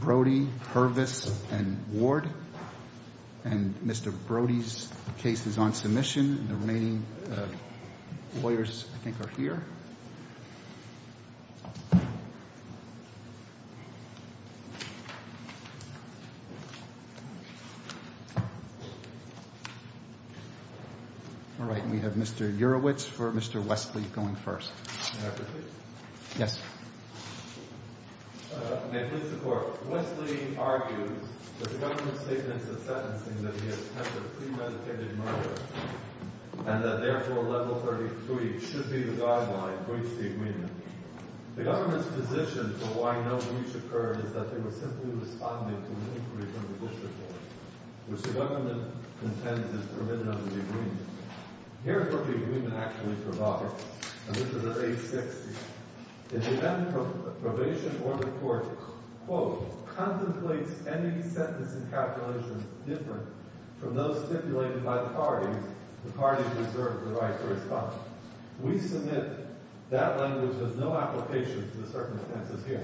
Brody, Hervis and Ward. Mr. Brody's case is on submission. The remaining lawyers I think are here. All right, we have Mr. Jurowicz for Mr. Westley going first. May I proceed? Yes. May I please support. Westley argues that the government's statements of sentencing that he attempted premeditated murder and that therefore level 33 should be the guideline to reach the agreement. The government's position for why no breach occurred is that they were simply responding to an inquiry from the district court, which the government contends is permitted under the agreement. Here is what the agreement actually provides, and this is at page 60. In the event of probation or the court, quote, contemplates any sentence in calculation different from those stipulated by the parties, the parties may reserve the right to respond. We submit that language has no application to the circumstances here.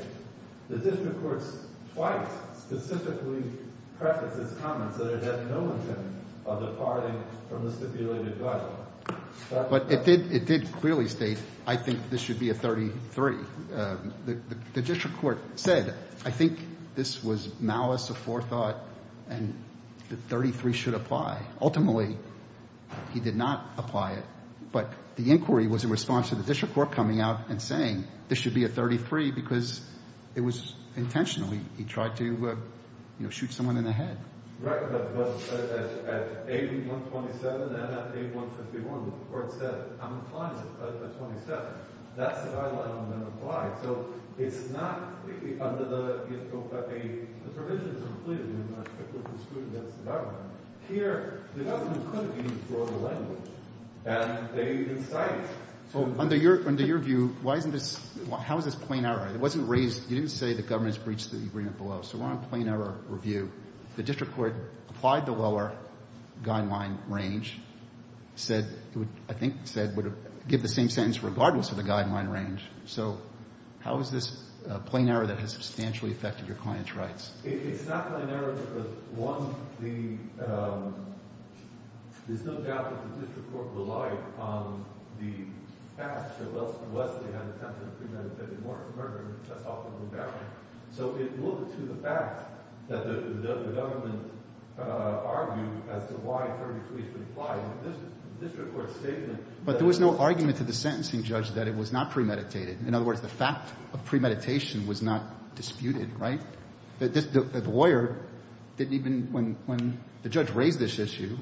The district court twice specifically prefaced its comments that it had no intent of departing from the stipulated guideline. But it did clearly state, I think this should be a 33. The district court said, I think this was malice of forethought and that 33 should apply. Ultimately, he did not apply it. But the inquiry was in response to the district court coming out and saying this should be a 33 because it was intentional. He tried to, you know, shoot someone in the head. Right. But at page 127 and at page 151, the court said I'm applying it at 27. That's the guideline I'm going to apply. So it's not under the provisions included in the stipulated agreement against the government. Here, the government could have used broader language, and they didn't cite it. So under your view, why isn't this – how is this plain error? It wasn't raised – you didn't say the government has breached the agreement below. So we're on a plain error review. The district court applied the lower guideline range, said – I think said it would give the same sentence regardless of the guideline range. So how is this a plain error that has substantially affected your client's rights? It's not a plain error because, one, the – there's no doubt that the district court relied on the fact that Leslie had attempted to premeditate Mortimer, and that's often the value. So it moved to the fact that the government argued as to why 33 should apply. But there was no argument to the sentencing judge that it was not premeditated. In other words, the fact of premeditation was not disputed, right? The lawyer didn't even – when the judge raised this issue,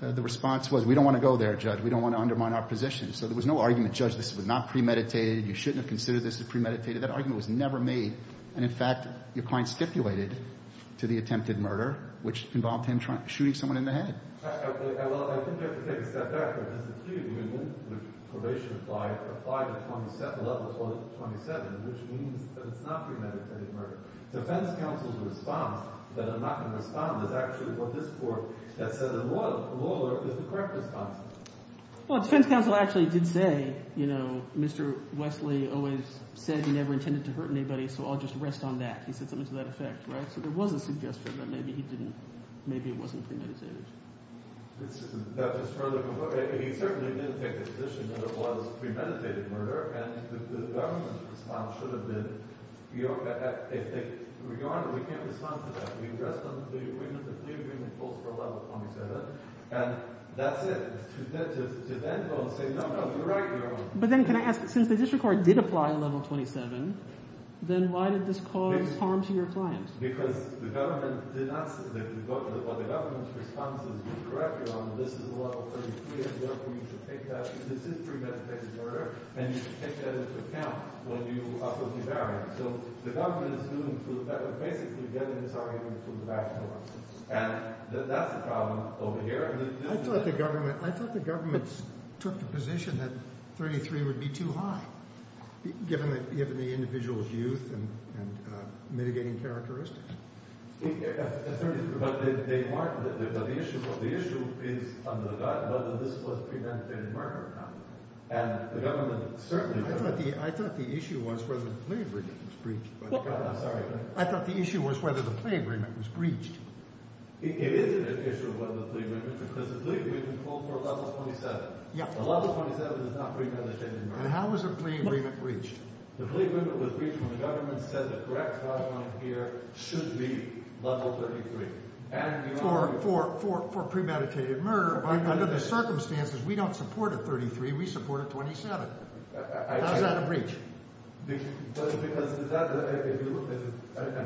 the response was we don't want to go there, Judge. We don't want to undermine our position. So there was no argument, Judge, this was not premeditated. You shouldn't have considered this as premeditated. That argument was never made. And in fact, your client stipulated to the attempted murder, which involved him shooting someone in the head. Well, I think I have to take a step back. There's a few in the union which probation applied at level 27, which means that it's not premeditated murder. Defense counsel's response that I'm not going to respond is actually for this court that said the lawyer is the correct response. Well, defense counsel actually did say Mr. Wesley always said he never intended to hurt anybody, so I'll just rest on that. He said something to that effect, right? So there was a suggestion that maybe he didn't – maybe it wasn't premeditated. He certainly didn't take the position that it was premeditated murder, and the government's response should have been we can't respond to that. We rest on the agreement that the agreement holds for level 27, and that's it. To then go and say no, no, you're right. But then can I ask, since the district court did apply at level 27, then why did this cause harm to your client? Because the government did not say – well, the government's response is correct. This is a level 33, and therefore you should take that – this is premeditated murder, and you should take that into account when you oppose the barrier. So the government is doing – basically getting this argument through the back door, and that's the problem over here. I thought the government took the position that 33 would be too high given the individual's youth and mitigating characteristics. But the issue is whether this was premeditated murder or not, and the government certainly – I thought the issue was whether the plea agreement was breached by the government. I'm sorry. I thought the issue was whether the plea agreement was breached. It is an issue of whether the plea agreement was breached because the plea agreement holds for level 27. Yeah. But level 27 is not premeditated murder. And how was the plea agreement breached? The plea agreement was breached when the government said the correct response here should be level 33. And for premeditated murder, under the circumstances, we don't support a 33. We support a 27. How is that a breach? Because if you look at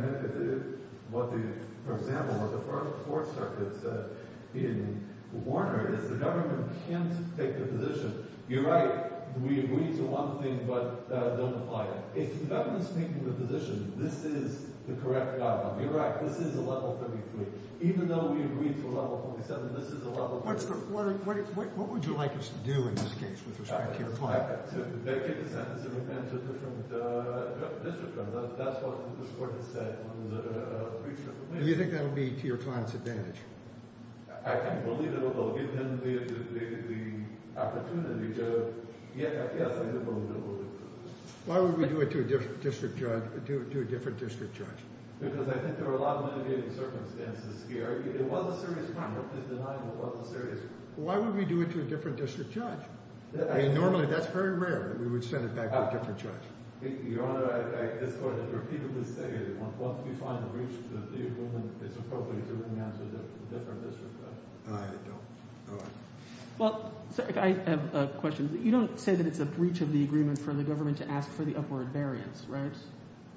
what the – for example, what the Fourth Circuit said in Warner is the government can't take the position. You're right. We agree to one thing but don't apply it. If the government is taking the position, this is the correct outcome. You're right. This is a level 33. Even though we agreed to a level 47, this is a level – What's the – what would you like us to do in this case with respect to your client? To make it a sentence in defense of a different district judge. That's what this court has said when it was a breach of the plan. Do you think that will be to your client's advantage? I can believe it will. It will give him the opportunity to – yes, I believe it will. Why would we do it to a different district judge? Because I think there are a lot of mitigating circumstances here. It was a serious crime. What he's denying was a serious crime. Why would we do it to a different district judge? Normally, that's very rare that we would send it back to a different judge. Your Honor, this court has repeatedly stated that once we find a breach to the agreement, it's appropriate to demand to a different district judge. I don't. All right. Well, sir, I have a question. You don't say that it's a breach of the agreement for the government to ask for the upward variance, right?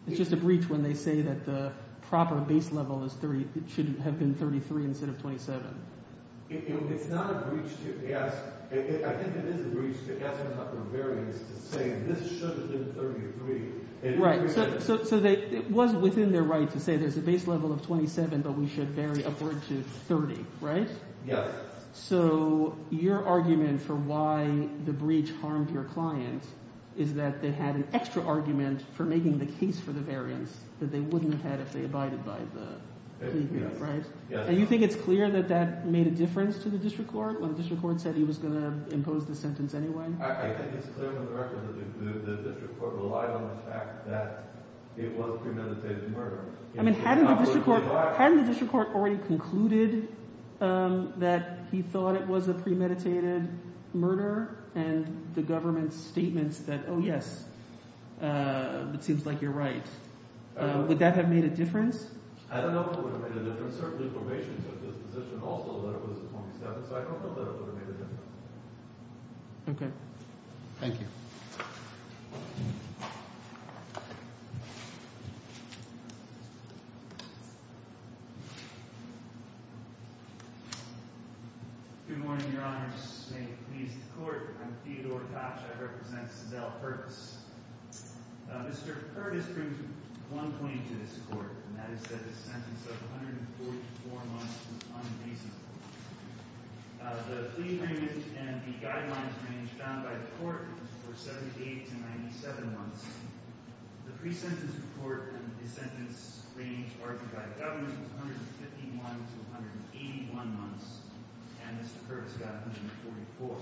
It's just a breach when they say that the proper base level is 30 – it should have been 33 instead of 27. It's not a breach to ask. I think it is a breach to ask them about the variance and say this should have been 33. Right. So it was within their right to say there's a base level of 27, but we should vary upward to 30, right? Yes. So your argument for why the breach harmed your client is that they had an extra argument for making the case for the variance that they wouldn't have had if they abided by the agreement, right? Yes. And you think it's clear that that made a difference to the district court when the district court said he was going to impose the sentence anyway? I think it's clear from the record that the district court relied on the fact that it was premeditated murder. I mean hadn't the district court already concluded that he thought it was a premeditated murder and the government's statements that, oh, yes, it seems like you're right? Would that have made a difference? I don't know if it would have made a difference. Certainly probation took this position also that it was a 27, so I don't know that it would have made a difference. Okay. Thank you. Good morning, Your Honor. May it please the Court. I'm Theodore Tosh. I represent Sandell Hurts. Mr. Curtis brings one point to this court, and that is that the sentence of 144 months was unreasonable. The plea range and the guidelines range found by the court was for 78 to 97 months. The pre-sentence report and the sentence range argued by the government was 151 to 181 months, and Mr. Curtis got 144.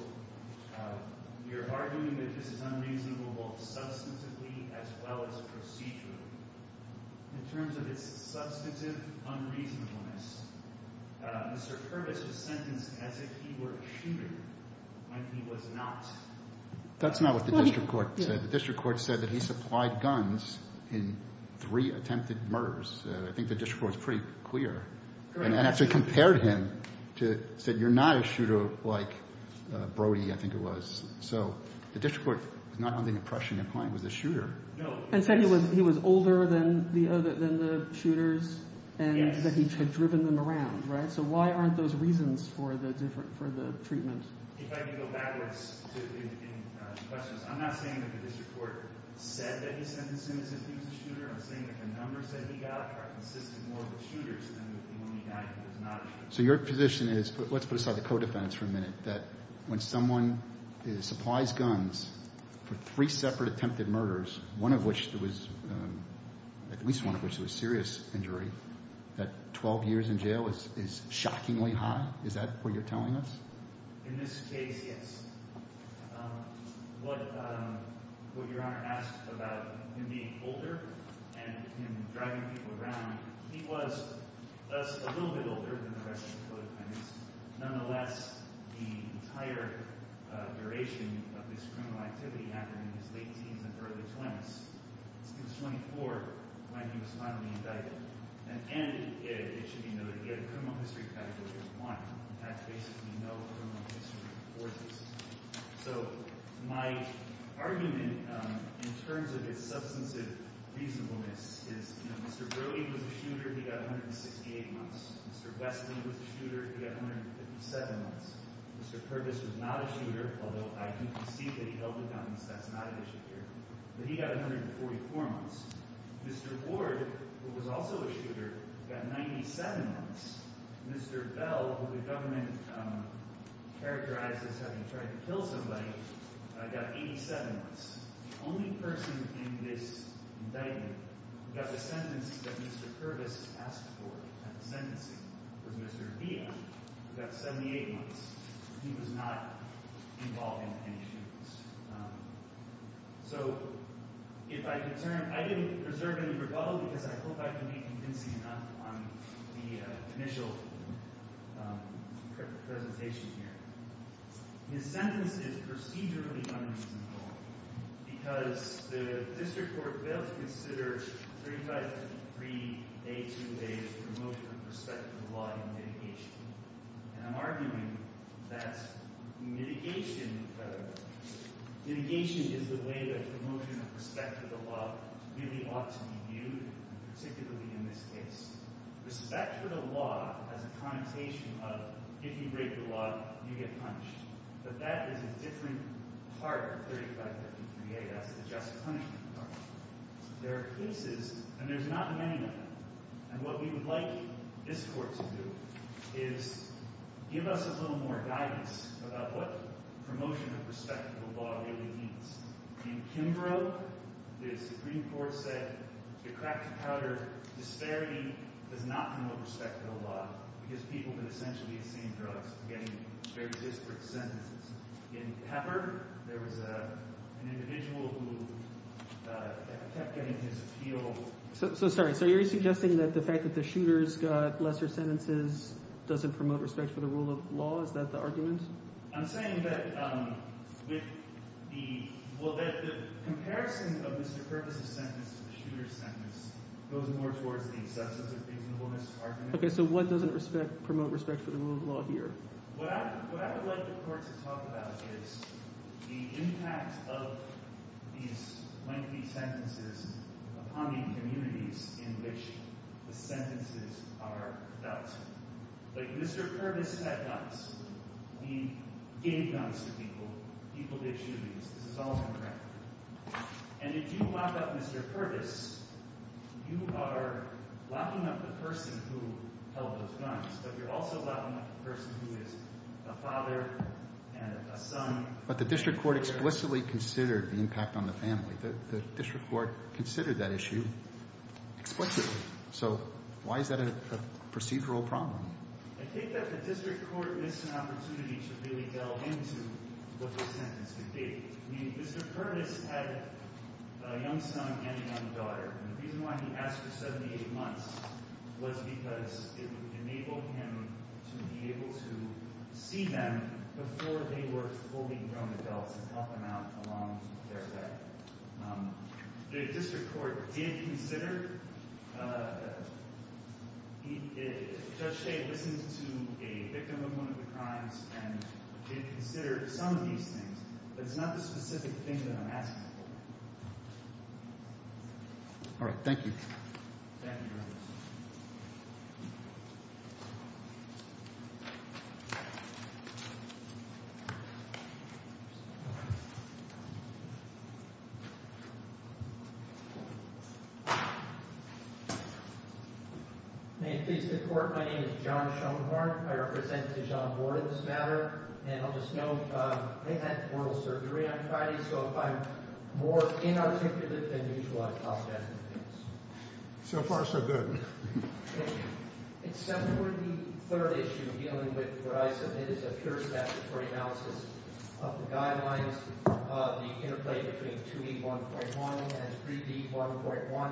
You're arguing that this is unreasonable both substantively as well as procedurally. In terms of its substantive unreasonableness, Mr. Curtis was sentenced as if he were a shooter when he was not. That's not what the district court said. The district court said that he supplied guns in three attempted murders. I think the district court was pretty clear and actually compared him to say you're not a shooter like Brody, I think it was. So the district court was not under the impression the client was a shooter. And said he was older than the shooters and that he had driven them around, right? So why aren't those reasons for the treatment? If I could go backwards to any questions. I'm not saying that the district court said that he was sentenced as if he was a shooter. I'm saying that the numbers that he got are consistent more with shooters than with the one he died who was not a shooter. So your position is, let's put aside the co-defense for a minute, that when someone supplies guns for three separate attempted murders, one of which there was at least one of which was a serious injury, that 12 years in jail is shockingly high? Is that what you're telling us? In this case, yes. What your Honor asked about him being older and him driving people around, he was a little bit older than the rest of the co-defendants. Nonetheless, the entire duration of this criminal activity happened in his late teens and early 20s. He was 24 when he was finally indicted. And it should be noted, he had a criminal history category of one. That's basically no criminal history before this. So my argument in terms of his substantive reasonableness is Mr. Brody was a shooter. He got 168 months. Mr. Westley was a shooter. He got 157 months. Mr. Curtis was not a shooter, although I do concede that he held the guns. That's not an issue here. But he got 144 months. Mr. Ward, who was also a shooter, got 97 months. Mr. Bell, who the government characterized as having tried to kill somebody, got 87 months. The only person in this indictment who got the sentence that Mr. Curtis asked for at the sentencing was Mr. Dia. He got 78 months. He was not involved in any shootings. So if I could turn – I didn't preserve any rebuttal because I hope I can be convincing enough on the initial presentation here. His sentence is procedurally unreasonable because the district court failed to consider 3553A2A's promotion of prospective law in litigation. And I'm arguing that mitigation – mitigation is the way that promotion of prospective law really ought to be viewed, particularly in this case. Prospective law has a connotation of if you break the law, you get punished. But that is a different part of 3553A. That's the just punishment part. There are cases – and there's not many of them. And what we would like this court to do is give us a little more guidance about what promotion of prospective law really means. In Kimbrough, the Supreme Court said the crack-to-powder disparity does not promote prospective law because people can essentially be on the same drugs and getting very disparate sentences. In Pepper, there was an individual who kept getting his appeal – So – sorry. So you're suggesting that the fact that the shooters got lesser sentences doesn't promote respect for the rule of law? Is that the argument? I'm saying that with the – well, that the comparison of Mr. Curtis' sentence to the shooter's sentence goes more towards the acceptance of reasonableness argument. Okay, so what doesn't respect – promote respect for the rule of law here? What I would like the court to talk about is the impact of these lengthy sentences upon the communities in which the sentences are dealt. Like, Mr. Curtis had guns. We gave guns to people, people did shootings. This is all on the ground. And if you lock up Mr. Curtis, you are locking up the person who held those guns, but you're also locking up the person who is a father and a son. But the district court explicitly considered the impact on the family. The district court considered that issue explicitly. So why is that a procedural problem? I think that the district court missed an opportunity to really delve into what the sentence could be. I mean, Mr. Curtis had a young son and a young daughter, and the reason why he asked for 78 months was because it would enable him to be able to see them before they were fully grown adults and help them out along their way. The district court did consider – Judge Shade listened to a victim of one of the crimes and did consider some of these things, but it's not the specific thing that I'm asking for. All right, thank you. Thank you, Your Honor. May it please the Court, my name is John Schoenhorn. I represent Judge John Board on this matter. And I'll just note, I had oral surgery on Friday, so I'm more inarticulate than usual. So far, so good. Except for the third issue dealing with Verizon, it is a pure statutory analysis of the guidelines, the interplay between 2E1.1 and 3D1.1.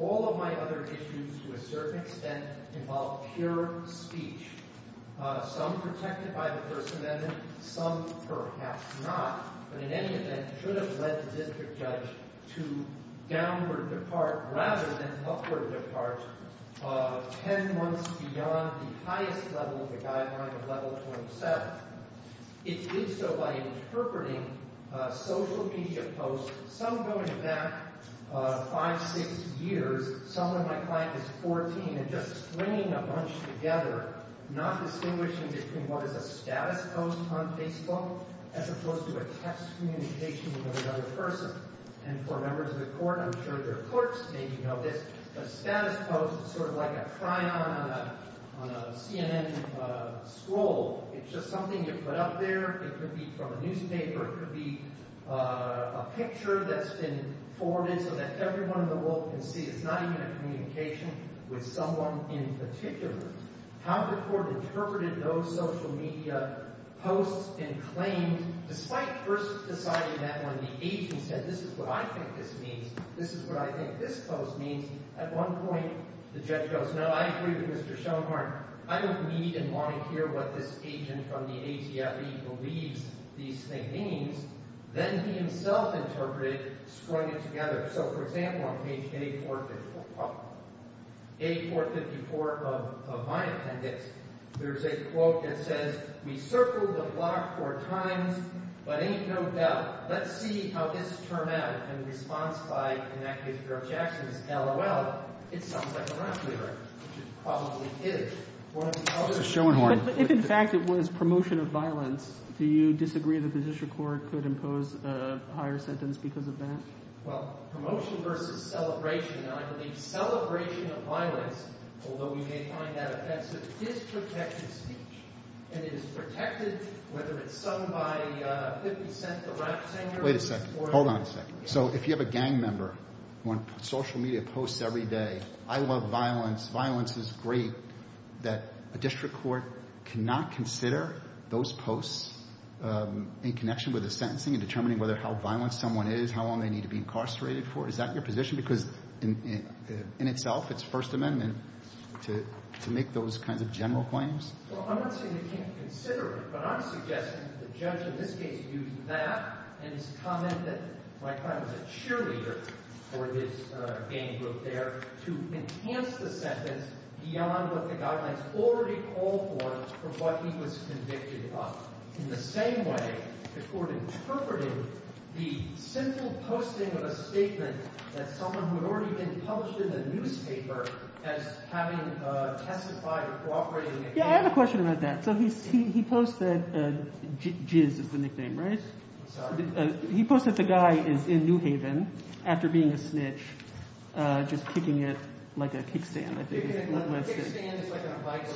All of my other issues, to a certain extent, involve pure speech. Some protected by the First Amendment, some perhaps not. But in any event, it should have led the district judge to downward depart rather than upward depart 10 months beyond the highest level of the guideline of Level 27. It did so by interpreting social media posts, some going back 5, 6 years, some when my client was 14, and just stringing a bunch together, not distinguishing between what is a status post on Facebook as opposed to a text communication with another person. And for members of the Court, I'm sure their clerks may know this, a status post is sort of like a try-on on a CNN scroll. It's just something you put up there. It could be from a newspaper. It could be a picture that's been forwarded so that everyone in the world can see. It's not even a communication with someone in particular. How the Court interpreted those social media posts and claims, despite first deciding that when the agent said, this is what I think this means, this is what I think this post means, at one point the judge goes, no, I agree with Mr. Schoenhart. I don't need and want to hear what this agent from the ATRE believes these things mean. Then he himself interpreted, strung it together. So, for example, on page A454 of my appendix, there's a quote that says, we circled the block four times, but ain't no doubt. Let's see how this turned out in response by an activist, Earl Jackson, LOL, it sounds like a rock lyric, which it probably is. If, in fact, it was promotion of violence, do you disagree that the district court could impose a higher sentence because of that? Well, promotion versus celebration, I believe celebration of violence, although we may find that offensive, is protected speech. And it is protected, whether it's sung by 50 Cent, the rap singer. Wait a second. Hold on a second. So if you have a gang member on social media posts every day, I love violence. Violence is great. That a district court cannot consider those posts in connection with the sentencing and determining whether how violent someone is, how long they need to be incarcerated for. Is that your position? Because in itself, it's First Amendment to make those kinds of general claims. Well, I'm not saying they can't consider it, but I'm suggesting that the judge in this case used that and his comment that my client was a cheerleader for his gang group there to enhance the sentence beyond what the guidelines already called for for what he was convicted of. In the same way, the court interpreted the simple posting of a statement that someone who had already been published in the newspaper as having testified or cooperating. Yeah, I have a question about that. So he's he posted. Jizz is the nickname, right? He posted the guy is in New Haven after being a snitch, just kicking it like a kickstand.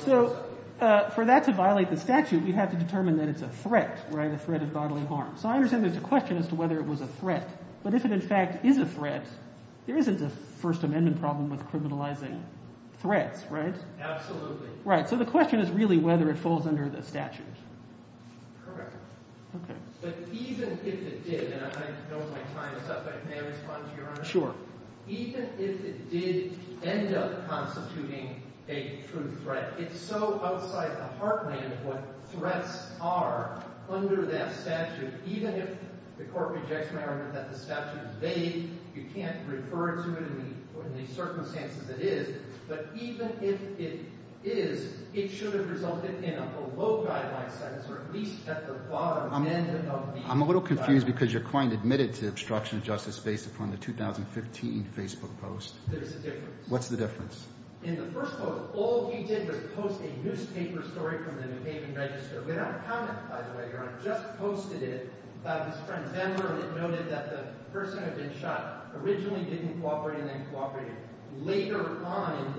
So for that to violate the statute, we have to determine that it's a threat, a threat of bodily harm. So I understand there's a question as to whether it was a threat. But if it, in fact, is a threat, there isn't a First Amendment problem with criminalizing threats. Right. Absolutely. Right. So the question is really whether it falls under the statute. Correct. OK. But even if it did, and I know my time is up, but may I respond to your honor? Sure. Even if it did end up constituting a true threat, it's so outside the heartland what threats are under that statute. Even if the court rejects my argument that the statute is vague, you can't refer to it in the circumstances it is. But even if it is, it should have resulted in a below guideline sentence or at least at the bottom end of the guideline. I'm a little confused because your client admitted to obstruction of justice based upon the 2015 Facebook post. There's a difference. What's the difference? In the first post, all he did was post a newspaper story from the New Haven Register, without comment, by the way, your honor. Just posted it. His friend, Ben Merlin, noted that the person who had been shot originally didn't cooperate and then cooperated. Later on,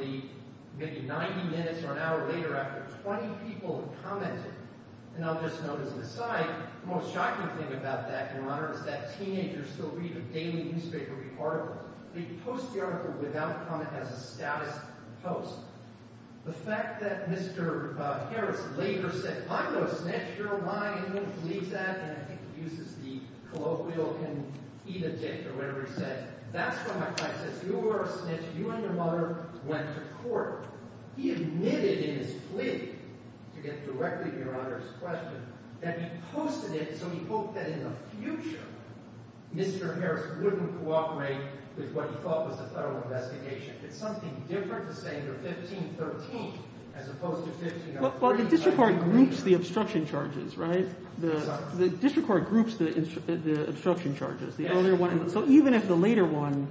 maybe 90 minutes or an hour later, after 20 people had commented, and I'll just note as an aside, the most shocking thing about that, your honor, is that teenagers still read a daily newspaper article. They post the article without comment as a status post. The fact that Mr. Harris later said, I'm not a snitch. You're a liar. I don't believe that. And I think he uses the colloquial can eat a dick or whatever he said. That's when my client says, you are a snitch. You and your mother went to court. He admitted in his plea, to get directly to your honor's question, that he posted it so he hoped that in the future, Mr. Harris wouldn't cooperate with what he thought was a federal investigation. It's something different to say you're 15-13 as opposed to 15-13. Well, the district court groups the obstruction charges, right? The district court groups the obstruction charges. So even if the later one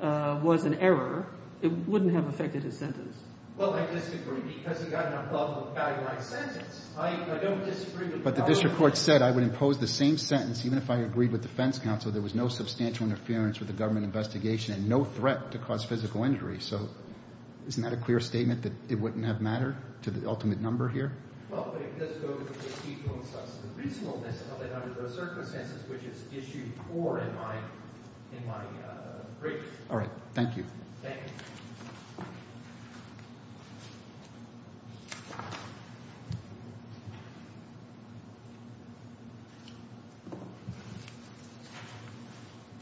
was an error, it wouldn't have affected his sentence. Well, I disagree. Because he got an above the value line sentence, I don't disagree with that. But the district court said I would impose the same sentence even if I agreed with defense counsel. There was no substantial interference with the government investigation and no threat to cause physical injury. So isn't that a clear statement that it wouldn't have mattered to the ultimate number here? Well, it does go to the people and substance of reasonableness under the circumstances which it's issued for in my brief. All right. Thank you. Thank you.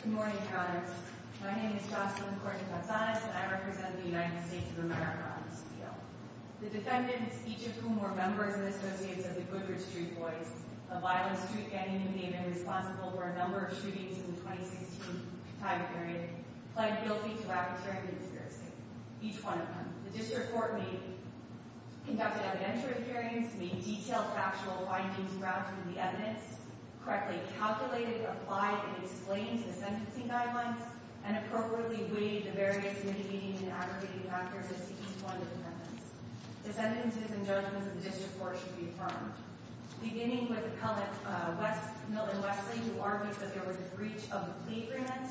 Good morning, Your Honors. My name is Jocelyn Cortez-Azanez, and I represent the United States of America on this appeal. The defendants, each of whom were members and associates of the Goodrich Street Boys, a violent street gang who may have been responsible for a number of shootings in the 2016 time period, pled guilty to arbitrary conspiracy, each one of them. The district court conducted evidentiary hearings, made detailed factual findings, grabbed from the evidence, correctly calculated, applied, and explained the sentencing guidelines, and appropriately weighted the various mitigating and aggregating factors to each one of the defendants. The sentences and judgments of the district court should be affirmed. Beginning with appellant Milton Wesley, who argued that there was a breach of the plea agreement,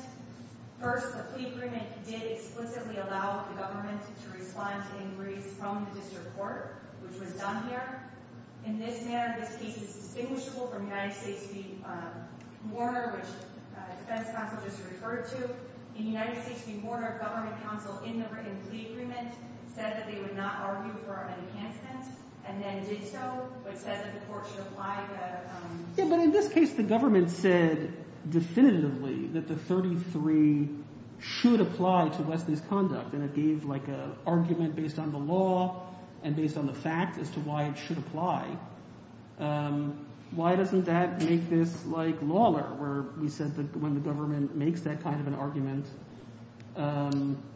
first, the plea agreement did explicitly allow the government to respond to inquiries from the district court, which was done here. In this manner, this case is distinguishable from United States v. Warner, which the defense counsel just referred to. In United States v. Warner, government counsel in the written plea agreement said that they would not argue for an enhancement and then did so, but said that the court should apply the— Yeah, but in this case, the government said definitively that the 33 should apply to Wesley's conduct, and it gave like an argument based on the law and based on the fact as to why it should apply. Why doesn't that make this like Lawler, where we said that when the government makes that kind of an argument,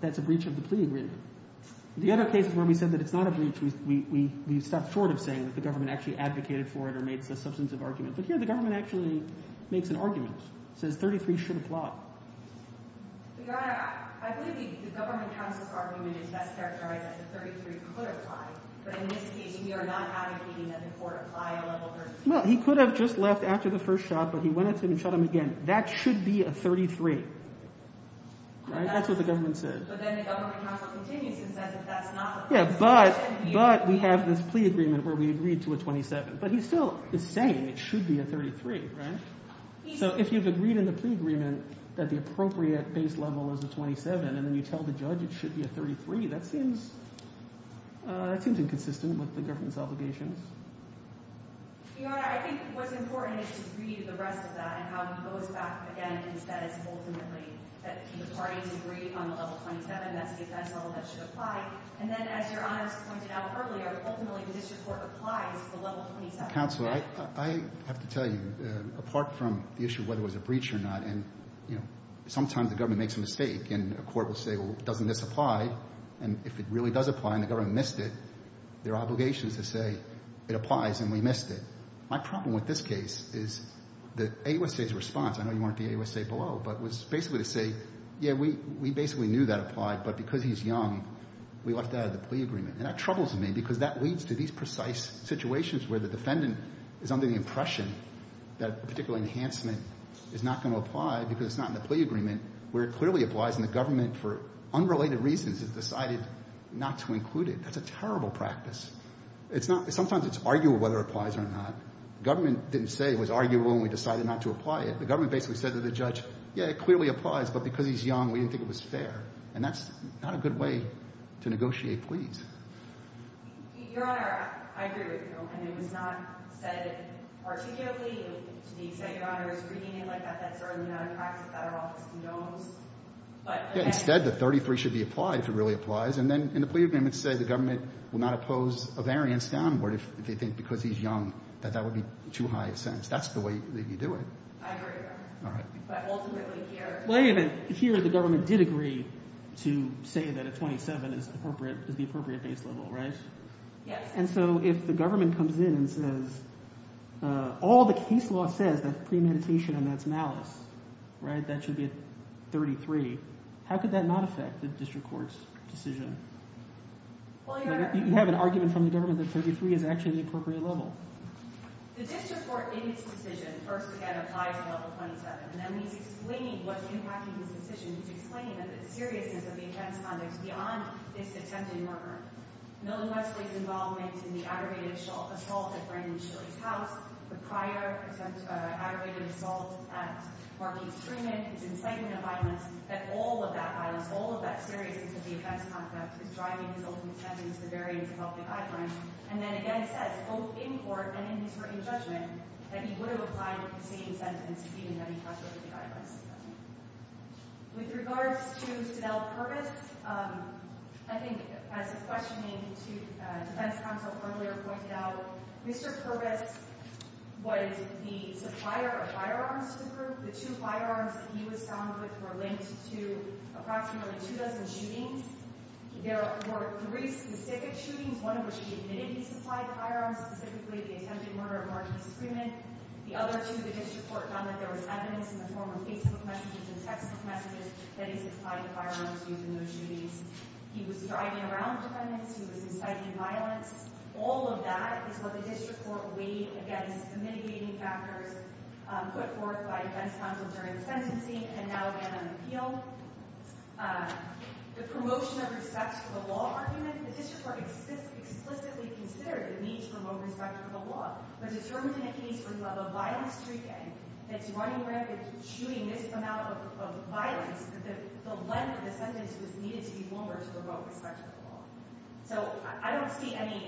that's a breach of the plea agreement? The other case is where we said that it's not a breach. We stopped short of saying that the government actually advocated for it or made a substantive argument. But here, the government actually makes an argument. It says 33 should apply. Your Honor, I believe the government counsel's argument is best characterized as the 33 should apply, but in this case, we are not advocating that the court apply a level 33. Well, he could have just left after the first shot, but he went into it and shot him again. That should be a 33, right? That's what the government said. But then the government counsel continues and says that that's not the case. Yeah, but we have this plea agreement where we agreed to a 27. But he still is saying it should be a 33, right? So if you've agreed in the plea agreement that the appropriate base level is a 27 and then you tell the judge it should be a 33, that seems inconsistent with the government's obligations. Your Honor, I think what's important is to read the rest of that and how he goes back again and says ultimately that the parties agreed on the level 27. That's the base level that should apply. And then as Your Honor has pointed out earlier, ultimately this report applies to the level 27. Counsel, I have to tell you, apart from the issue of whether it was a breach or not, and, you know, sometimes the government makes a mistake and a court will say, well, doesn't this apply? And if it really does apply and the government missed it, their obligation is to say it applies and we missed it. My problem with this case is that AUSA's response, I know you weren't at the AUSA below, but was basically to say, yeah, we basically knew that applied, but because he's young, we left that out of the plea agreement. And that troubles me because that leads to these precise situations where the defendant is under the impression that a particular enhancement is not going to apply because it's not in the plea agreement, where it clearly applies and the government for unrelated reasons has decided not to include it. That's a terrible practice. Sometimes it's arguable whether it applies or not. The government didn't say it was arguable and we decided not to apply it. The government basically said to the judge, yeah, it clearly applies, but because he's young, we didn't think it was fair. And that's not a good way to negotiate pleas. Your Honor, I agree with your opinion. It was not said articulately. To say, Your Honor, it was written in like that, that's certainly not a practice that our office condones. But again – Instead, the 33 should be applied if it really applies. And then in the plea agreement, it said the government will not oppose a variance downward if they think because he's young that that would be too high a sentence. That's the way you do it. I agree with that. All right. But ultimately here – Yes. And so if the government comes in and says all the case law says that premeditation and that's malice, right? That should be at 33. How could that not affect the district court's decision? Well, Your Honor – You have an argument from the government that 33 is actually the appropriate level. The district court in its decision first, again, applies at level 27. And then he's explaining what's impacting this decision. He's explaining that the seriousness of the offense conduct beyond this attempted murder, Milton Westley's involvement in the aggravated assault at Brandon Shilley's house, the prior aggravated assault at Marquis Truman, his incitement of violence, that all of that violence, all of that seriousness of the offense conduct is driving his ultimate sentence, the variance of health and guidelines. And then again it says, both in court and in his written judgment, that he would have applied for the same sentence even had he not written the guidelines. With regards to Danell Purvis, I think as the questioning to defense counsel earlier pointed out, Mr. Purvis was the supplier of firearms to the group. The two firearms that he was found with were linked to approximately two dozen shootings. There were three specific shootings, one of which he admitted he supplied the firearms, specifically the attempted murder at Marquis Truman. The other two the district court found that there was evidence in the form of Facebook messages and text messages that he supplied the firearms used in those shootings. He was driving around defendants. He was inciting violence. All of that is what the district court weighed against the mitigating factors put forth by defense counsel during the sentencing and now again on appeal. The promotion of respect for the law argument, the district court explicitly considered the need to promote respect for the law, but determined in a case where you have a violent street gang that's running rampant shooting this amount of violence that the length of the sentence was needed to be longer to promote respect for the law. So I don't see any,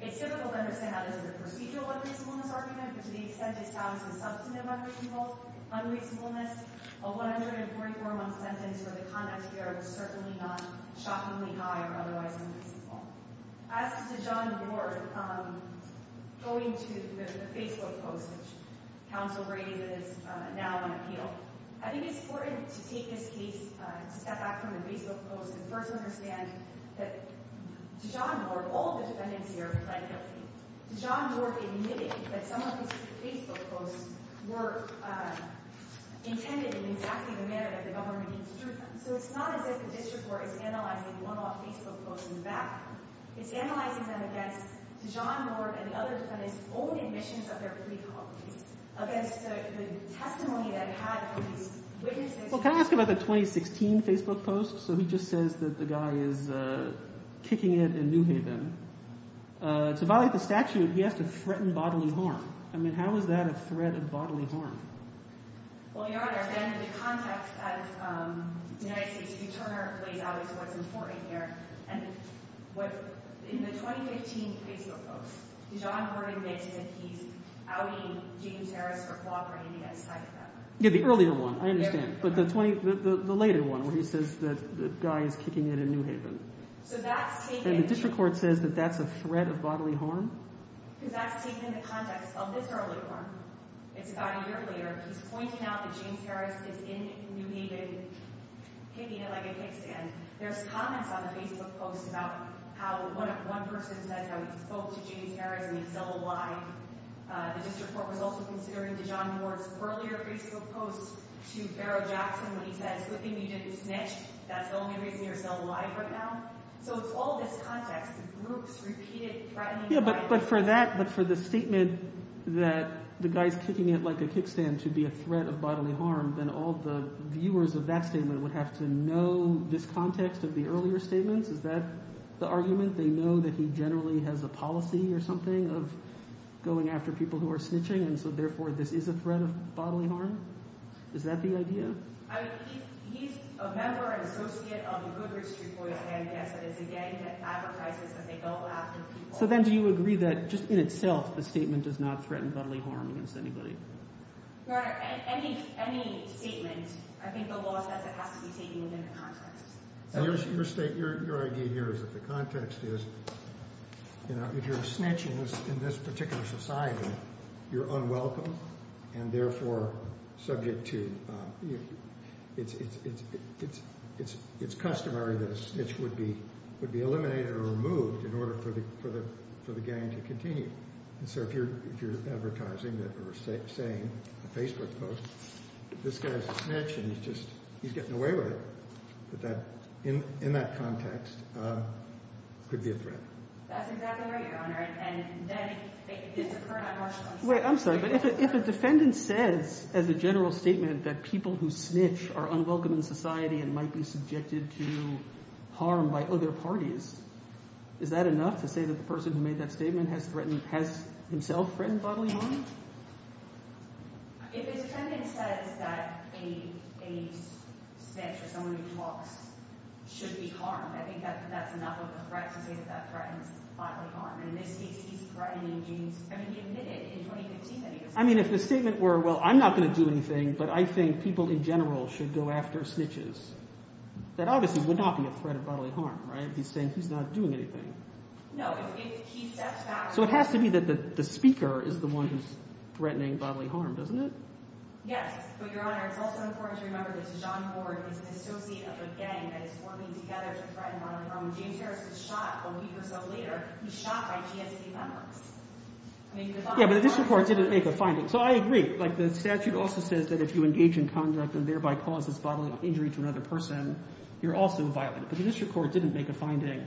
it's difficult to understand how this is a procedural unreasonableness argument, but to the extent it's found to be substantive unreasonableness, a 144-month sentence for the conduct here was certainly not shockingly high or otherwise unreasonable. As to John Ward going to the Facebook post, which counsel raises now on appeal, I think it's important to take this case, to step back from the Facebook post, and first understand that to John Ward, all the defendants here have pled guilty. John Ward admitted that some of his Facebook posts were intended in exactly the manner that the government instructed them. So it's not as if the district court is analyzing one-off Facebook posts in the background. It's analyzing them against John Ward and the other defendants' own admissions of their plea colonies, against the testimony they had from these witnesses. Well, can I ask about the 2016 Facebook post? To violate the statute, he has to threaten bodily harm. I mean, how is that a threat of bodily harm? Yeah, the earlier one, I understand. But the later one where he says that the guy is kicking it in New Haven. And the district court says that that's a threat of bodily harm? So it's all this context of groups repeated threatening bodily harm. But for the statement that the guy is kicking it like a kickstand to be a threat of bodily harm, then all the viewers of that statement would have to know this context of the earlier statements? Is that the argument? They know that he generally has a policy or something of going after people who are snitching, and so therefore this is a threat of bodily harm? Is that the idea? I mean, he's a member and associate of the Goodrich District Court of Amnesty. It's a gang that advertises that they go after people. So then do you agree that just in itself the statement does not threaten bodily harm against anybody? Your Honor, any statement, I think the law says it has to be taken within the context. So your idea here is that the context is if you're snitching in this particular society, you're unwelcome and therefore subject to you. It's customary that a snitch would be eliminated or removed in order for the gang to continue. And so if you're advertising that or saying in a Facebook post, this guy is a snitch and he's just getting away with it, in that context it could be a threat. That's exactly right, Your Honor. Wait, I'm sorry. But if a defendant says as a general statement that people who snitch are unwelcome in society and might be subjected to harm by other parties, is that enough to say that the person who made that statement has himself threatened bodily harm? If a defendant says that a snitch or someone who talks should be harmed, I think that's enough of a threat to say that that threatens bodily harm. In this case, he's threatening James—I mean, he admitted in 2015 that he was— I mean, if the statement were, well, I'm not going to do anything, but I think people in general should go after snitches, that obviously would not be a threat of bodily harm, right? He's saying he's not doing anything. No, if he steps back— So it has to be that the speaker is the one who's threatening bodily harm, doesn't it? Yes, but Your Honor, it's also important to remember that John Ford is an associate of a gang that is working together to threaten bodily harm. James Harris was shot a week or so later. He was shot by GSC members. Yeah, but the district court didn't make a finding. So I agree. Like the statute also says that if you engage in conduct and thereby cause this bodily injury to another person, you're also violent. But the district court didn't make a finding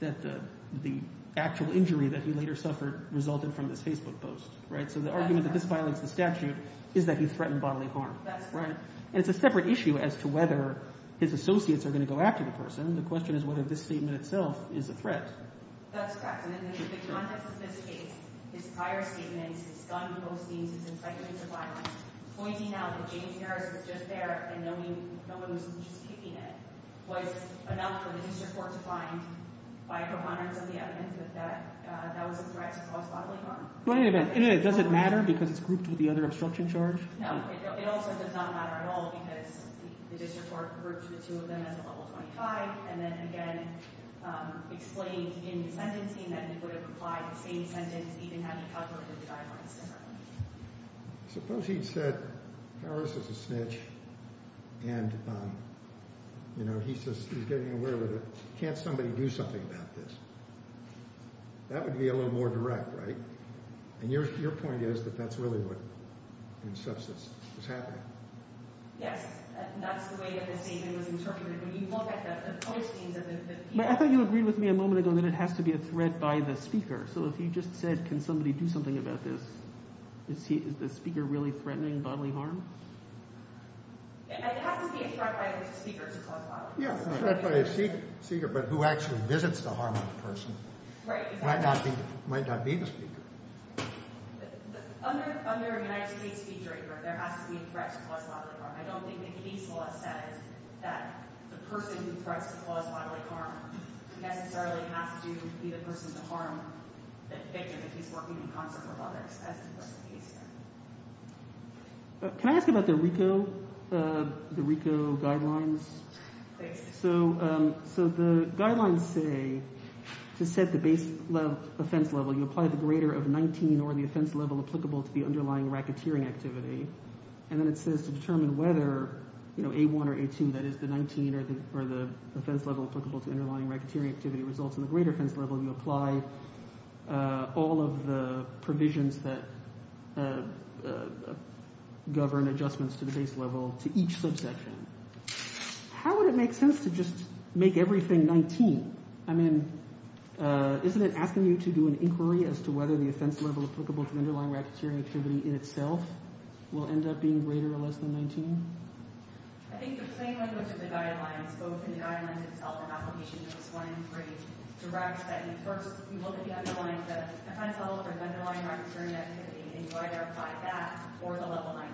that the actual injury that he later suffered resulted from this Facebook post, right? So the argument that this violates the statute is that he threatened bodily harm, right? And it's a separate issue as to whether his associates are going to go after the person. The question is whether this statement itself is a threat. That's correct. And in the context of this case, his prior statements, his gun postings, his incitements of violence, pointing out that James Harris was just there and no one was just picking at him was enough for the district court to find by Pro Bono and some of the evidence that that was a threat to cause bodily harm. Does it matter because it's grouped with the other obstruction charge? No, it also does not matter at all because the district court groups the two of them as a level 25 and then again explains in his sentencing that he would have applied the same sentence even had he covered the guidelines differently. Suppose he'd said, Harris is a snitch and, you know, he's getting aware of it. Can't somebody do something about this? That would be a little more direct, right? And your point is that that's really what, in substance, was happening. Yes, that's the way that the statement was interpreted. When you look at the postings of the people. I thought you agreed with me a moment ago that it has to be a threat by the speaker. So if you just said, can somebody do something about this, is the speaker really threatening bodily harm? It has to be a threat by the speaker to cause bodily harm. Yeah, a threat by the speaker, but who actually visits the harmed person might not be the speaker. Under United States feature, there has to be a threat to cause bodily harm. I don't think the case law says that the person who threatens to cause bodily harm necessarily has to be the person to harm the victim if he's working in concert with others, as the case law says. Can I ask about the RICO guidelines? Please. So the guidelines say, to set the base level offense level, you apply the greater of 19 or the offense level applicable to the underlying racketeering activity. And then it says to determine whether A1 or A2, that is the 19 or the offense level applicable to underlying racketeering activity, results in the greater offense level, you apply all of the provisions that govern adjustments to the base level to each subsection. How would it make sense to just make everything 19? I mean, isn't it asking you to do an inquiry as to whether the offense level applicable to underlying racketeering activity in itself will end up being greater or less than 19? I think the plain language of the guidelines, both in the guidelines itself and applications 1 and 3, directs that you first look at the underlying offense level for the underlying racketeering activity and you identify that for the level 19.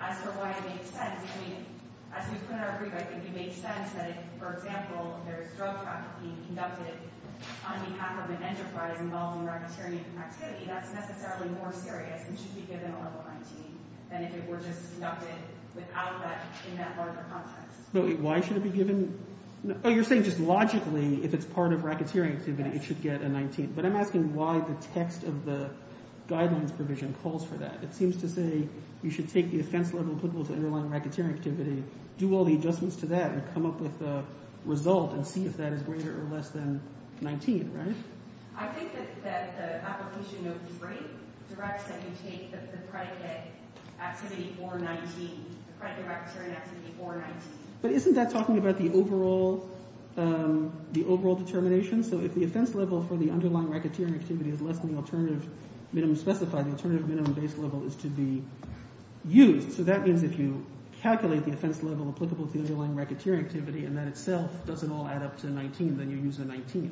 As for why it makes sense, I mean, as we put it in our brief, I think it makes sense that if, for example, there is drug trafficking conducted on behalf of an enterprise involving racketeering activity, that's necessarily more serious and should be given a level 19 than if it were just conducted without that in that larger context. Why should it be given? Oh, you're saying just logically if it's part of racketeering activity, it should get a 19. But I'm asking why the text of the guidelines provision calls for that. It seems to say you should take the offense level applicable to underlying racketeering activity, do all the adjustments to that, and come up with a result and see if that is greater or less than 19, right? I think that the application note is right. It directs that you take the predicate activity for 19, the predicate racketeering activity for 19. But isn't that talking about the overall determination? So if the offense level for the underlying racketeering activity is less than the alternative minimum specified, the alternative minimum base level is to be used. So that means if you calculate the offense level applicable to the underlying racketeering activity and that itself doesn't all add up to 19, then you use a 19.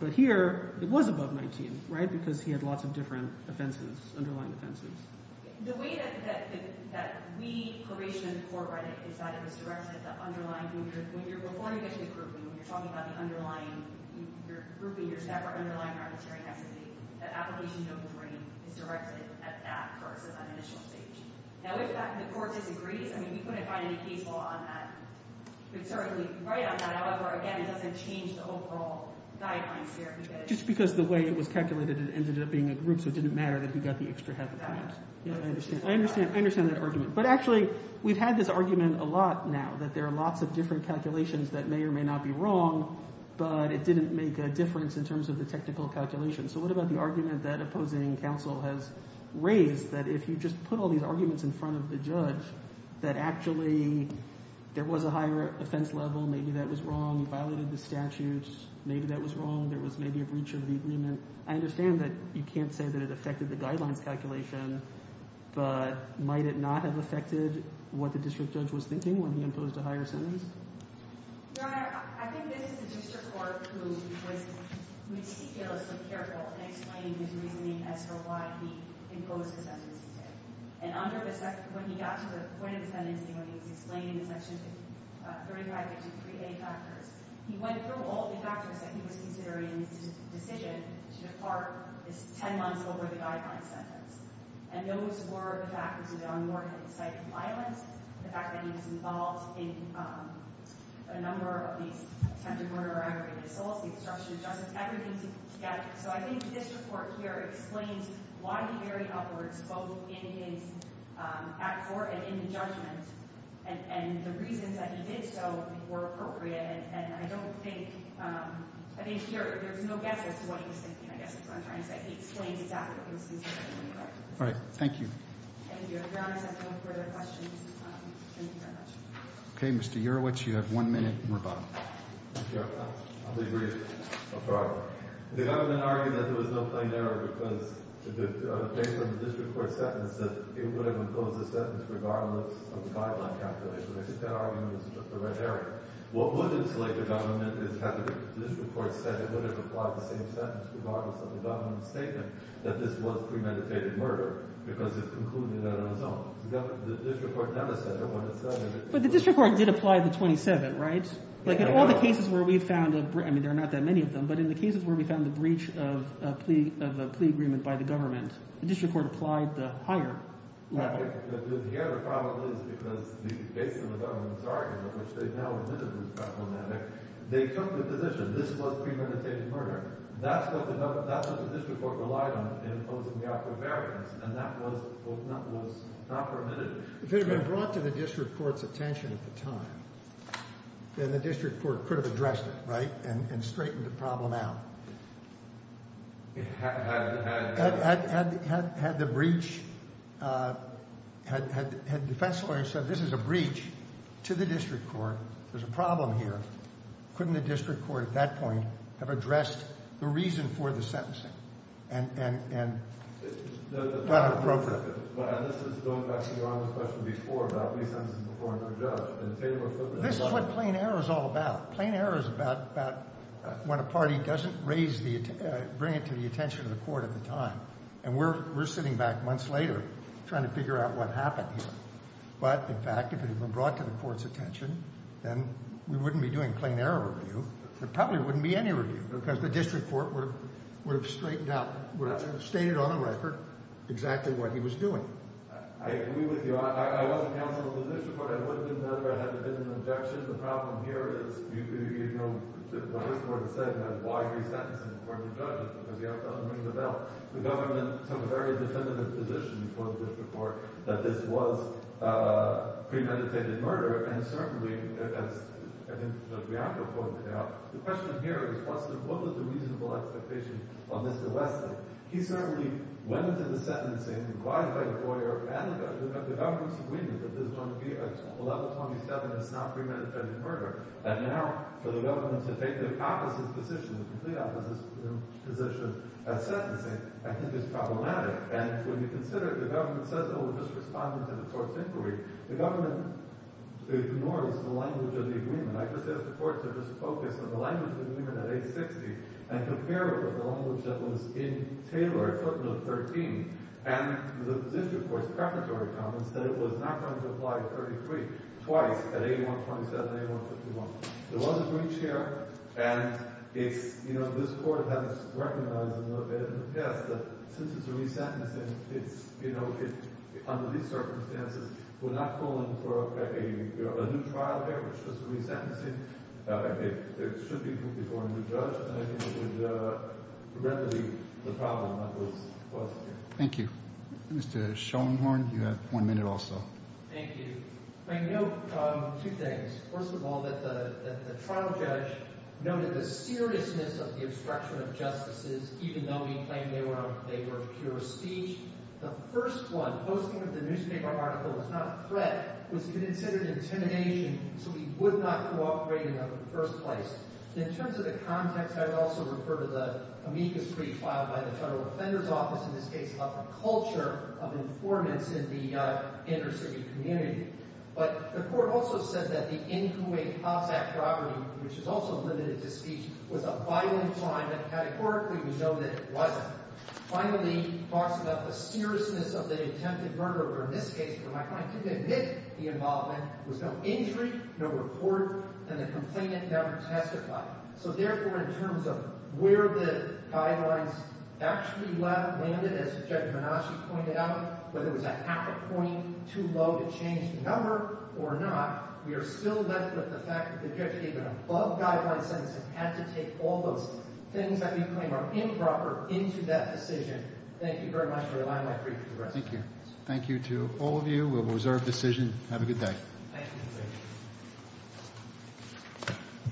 But here it was above 19, right, because he had lots of different offenses, underlying offenses. The way that we probation in the court read it is that it was directed at the underlying group leaders. Before you get to the grouping, when you're talking about the underlying group leaders that were underlying racketeering activity, the application note is directed at that person on the initial stage. Now, if the court disagrees, I mean, we couldn't find any case law on that. We could certainly write on that. However, again, it doesn't change the overall guidelines here. So it didn't matter that he got the extra half a point. I understand that argument. But actually, we've had this argument a lot now, that there are lots of different calculations that may or may not be wrong, but it didn't make a difference in terms of the technical calculation. So what about the argument that opposing counsel has raised, that if you just put all these arguments in front of the judge, that actually there was a higher offense level, maybe that was wrong, he violated the statutes, maybe that was wrong, there was maybe a breach of the agreement. I understand that you can't say that it affected the guidelines calculation, but might it not have affected what the district judge was thinking when he imposed a higher sentence? Your Honor, I think this is a district court who was meticulously careful in explaining his reasoning as to why he imposed the sentence. And when he got to the point of the sentencing, when he was explaining the Section 3553A factors, he went through all the factors that he was considering in his decision to depart 10 months over the guideline sentence. And those were the factors of the on-boarding of the site of violence, the fact that he was involved in a number of these attempted murder or aggravated assaults, the obstruction of justice, everything together. So I think this report here explains why he varied upwards both in his act for and in the judgment, and the reasons that he did so were appropriate. And I don't think, I think there's no guess as to what he was thinking. I guess that's what I'm trying to say. He explained exactly what he was thinking. All right. Thank you. Thank you, Your Honor. If there are no further questions, thank you very much. Okay, Mr. Urowicz, you have one minute and we're done. Thank you, Your Honor. I'll be brief. I'll try. The government argued that there was no plain error because, based on the district court sentence, that it would have imposed a sentence regardless of the guideline calculation. I think that argument is just a red herring. What would have slated the government is had the district court said it would have applied the same sentence regardless of the government's statement that this was premeditated murder because it concluded that on its own. The district court never said it would have said it. But the district court did apply the 27, right? Yeah, it did. Like in all the cases where we found a breach, I mean there are not that many of them, but in the cases where we found the breach of a plea agreement by the government, the district court applied the higher level. The other problem is because, based on the government's argument, which they now admitted was problematic, they took the position this was premeditated murder. That's what the district court relied on in imposing the offer of variance, and that was not permitted. If it had been brought to the district court's attention at the time, then the district court could have addressed it, right, and straightened the problem out. Had the breach, had defense lawyers said this is a breach to the district court, there's a problem here, couldn't the district court at that point have addressed the reason for the sentencing and brought it appropriate? This is going back to your earlier question before about plea sentences before a judge. This is what plain error is all about. Plain error is about when a party doesn't bring it to the attention of the court at the time, and we're sitting back months later trying to figure out what happened here. But, in fact, if it had been brought to the court's attention, then we wouldn't be doing plain error review. There probably wouldn't be any review because the district court would have straightened out, would have stated on the record exactly what he was doing. I agree with you. I wasn't counsel of the district court. I wouldn't have been there if I hadn't been an objection. The problem here is you know what this court has said about why resentencing before the judge is because the judge doesn't ring the bell. The government took a very definitive position before the district court that this was premeditated murder, and certainly, as I think the reactor pointed out, the question here is what was the reasonable expectation of Mr. Weston? He certainly went into the sentencing and qualified a lawyer and the government's agreement that this is going to be a level 27, it's not premeditated murder. And now for the government to take the opposite position, the complete opposite position at sentencing, I think is problematic. And when you consider the government says it will just respond to the court's inquiry, the government ignores the language of the agreement. I just ask the court to just focus on the language of the agreement at 860 and compare it with the language that was in Taylor 13 and the district court's preparatory comments that it was not going to apply 33 twice at 8127 and 8151. There was a breach here, and it's, you know, this court has recognized a little bit, and yes, since it's resentencing, it's, you know, under these circumstances, we're not calling for a new trial here, which is resentencing. It should be put before a new judge, and I think it would remedy the problem that was caused here. Thank you. Mr. Schoenhorn, you have one minute also. Thank you. I note two things. First of all, that the trial judge noted the seriousness of the obstruction of justices, even though he claimed they were pure of speech. The first one, posting that the newspaper article was not a threat, was considered intimidation, so he would not cooperate in the first place. In terms of the context, I would also refer to the amicus brief filed by the federal offender's office, in this case, of the culture of informants in the inner-city community. But the court also said that the N. Kuwait House Act property, which is also limited to speech, was a violent crime and categorically we know that it wasn't. Finally, he talks about the seriousness of the attempted murder, where my client could admit the involvement, there was no injury, no report, and the complainant never testified. So therefore, in terms of where the guidelines actually landed, as Judge Menasci pointed out, whether it was a half a point too low to change the number or not, we are still left with the fact that the judge gave an above-guideline sentence and had to take all those things that we claim are improper into that decision. Thank you very much for your time. Thank you. Thank you to all of you. We will reserve the decision. Have a good day.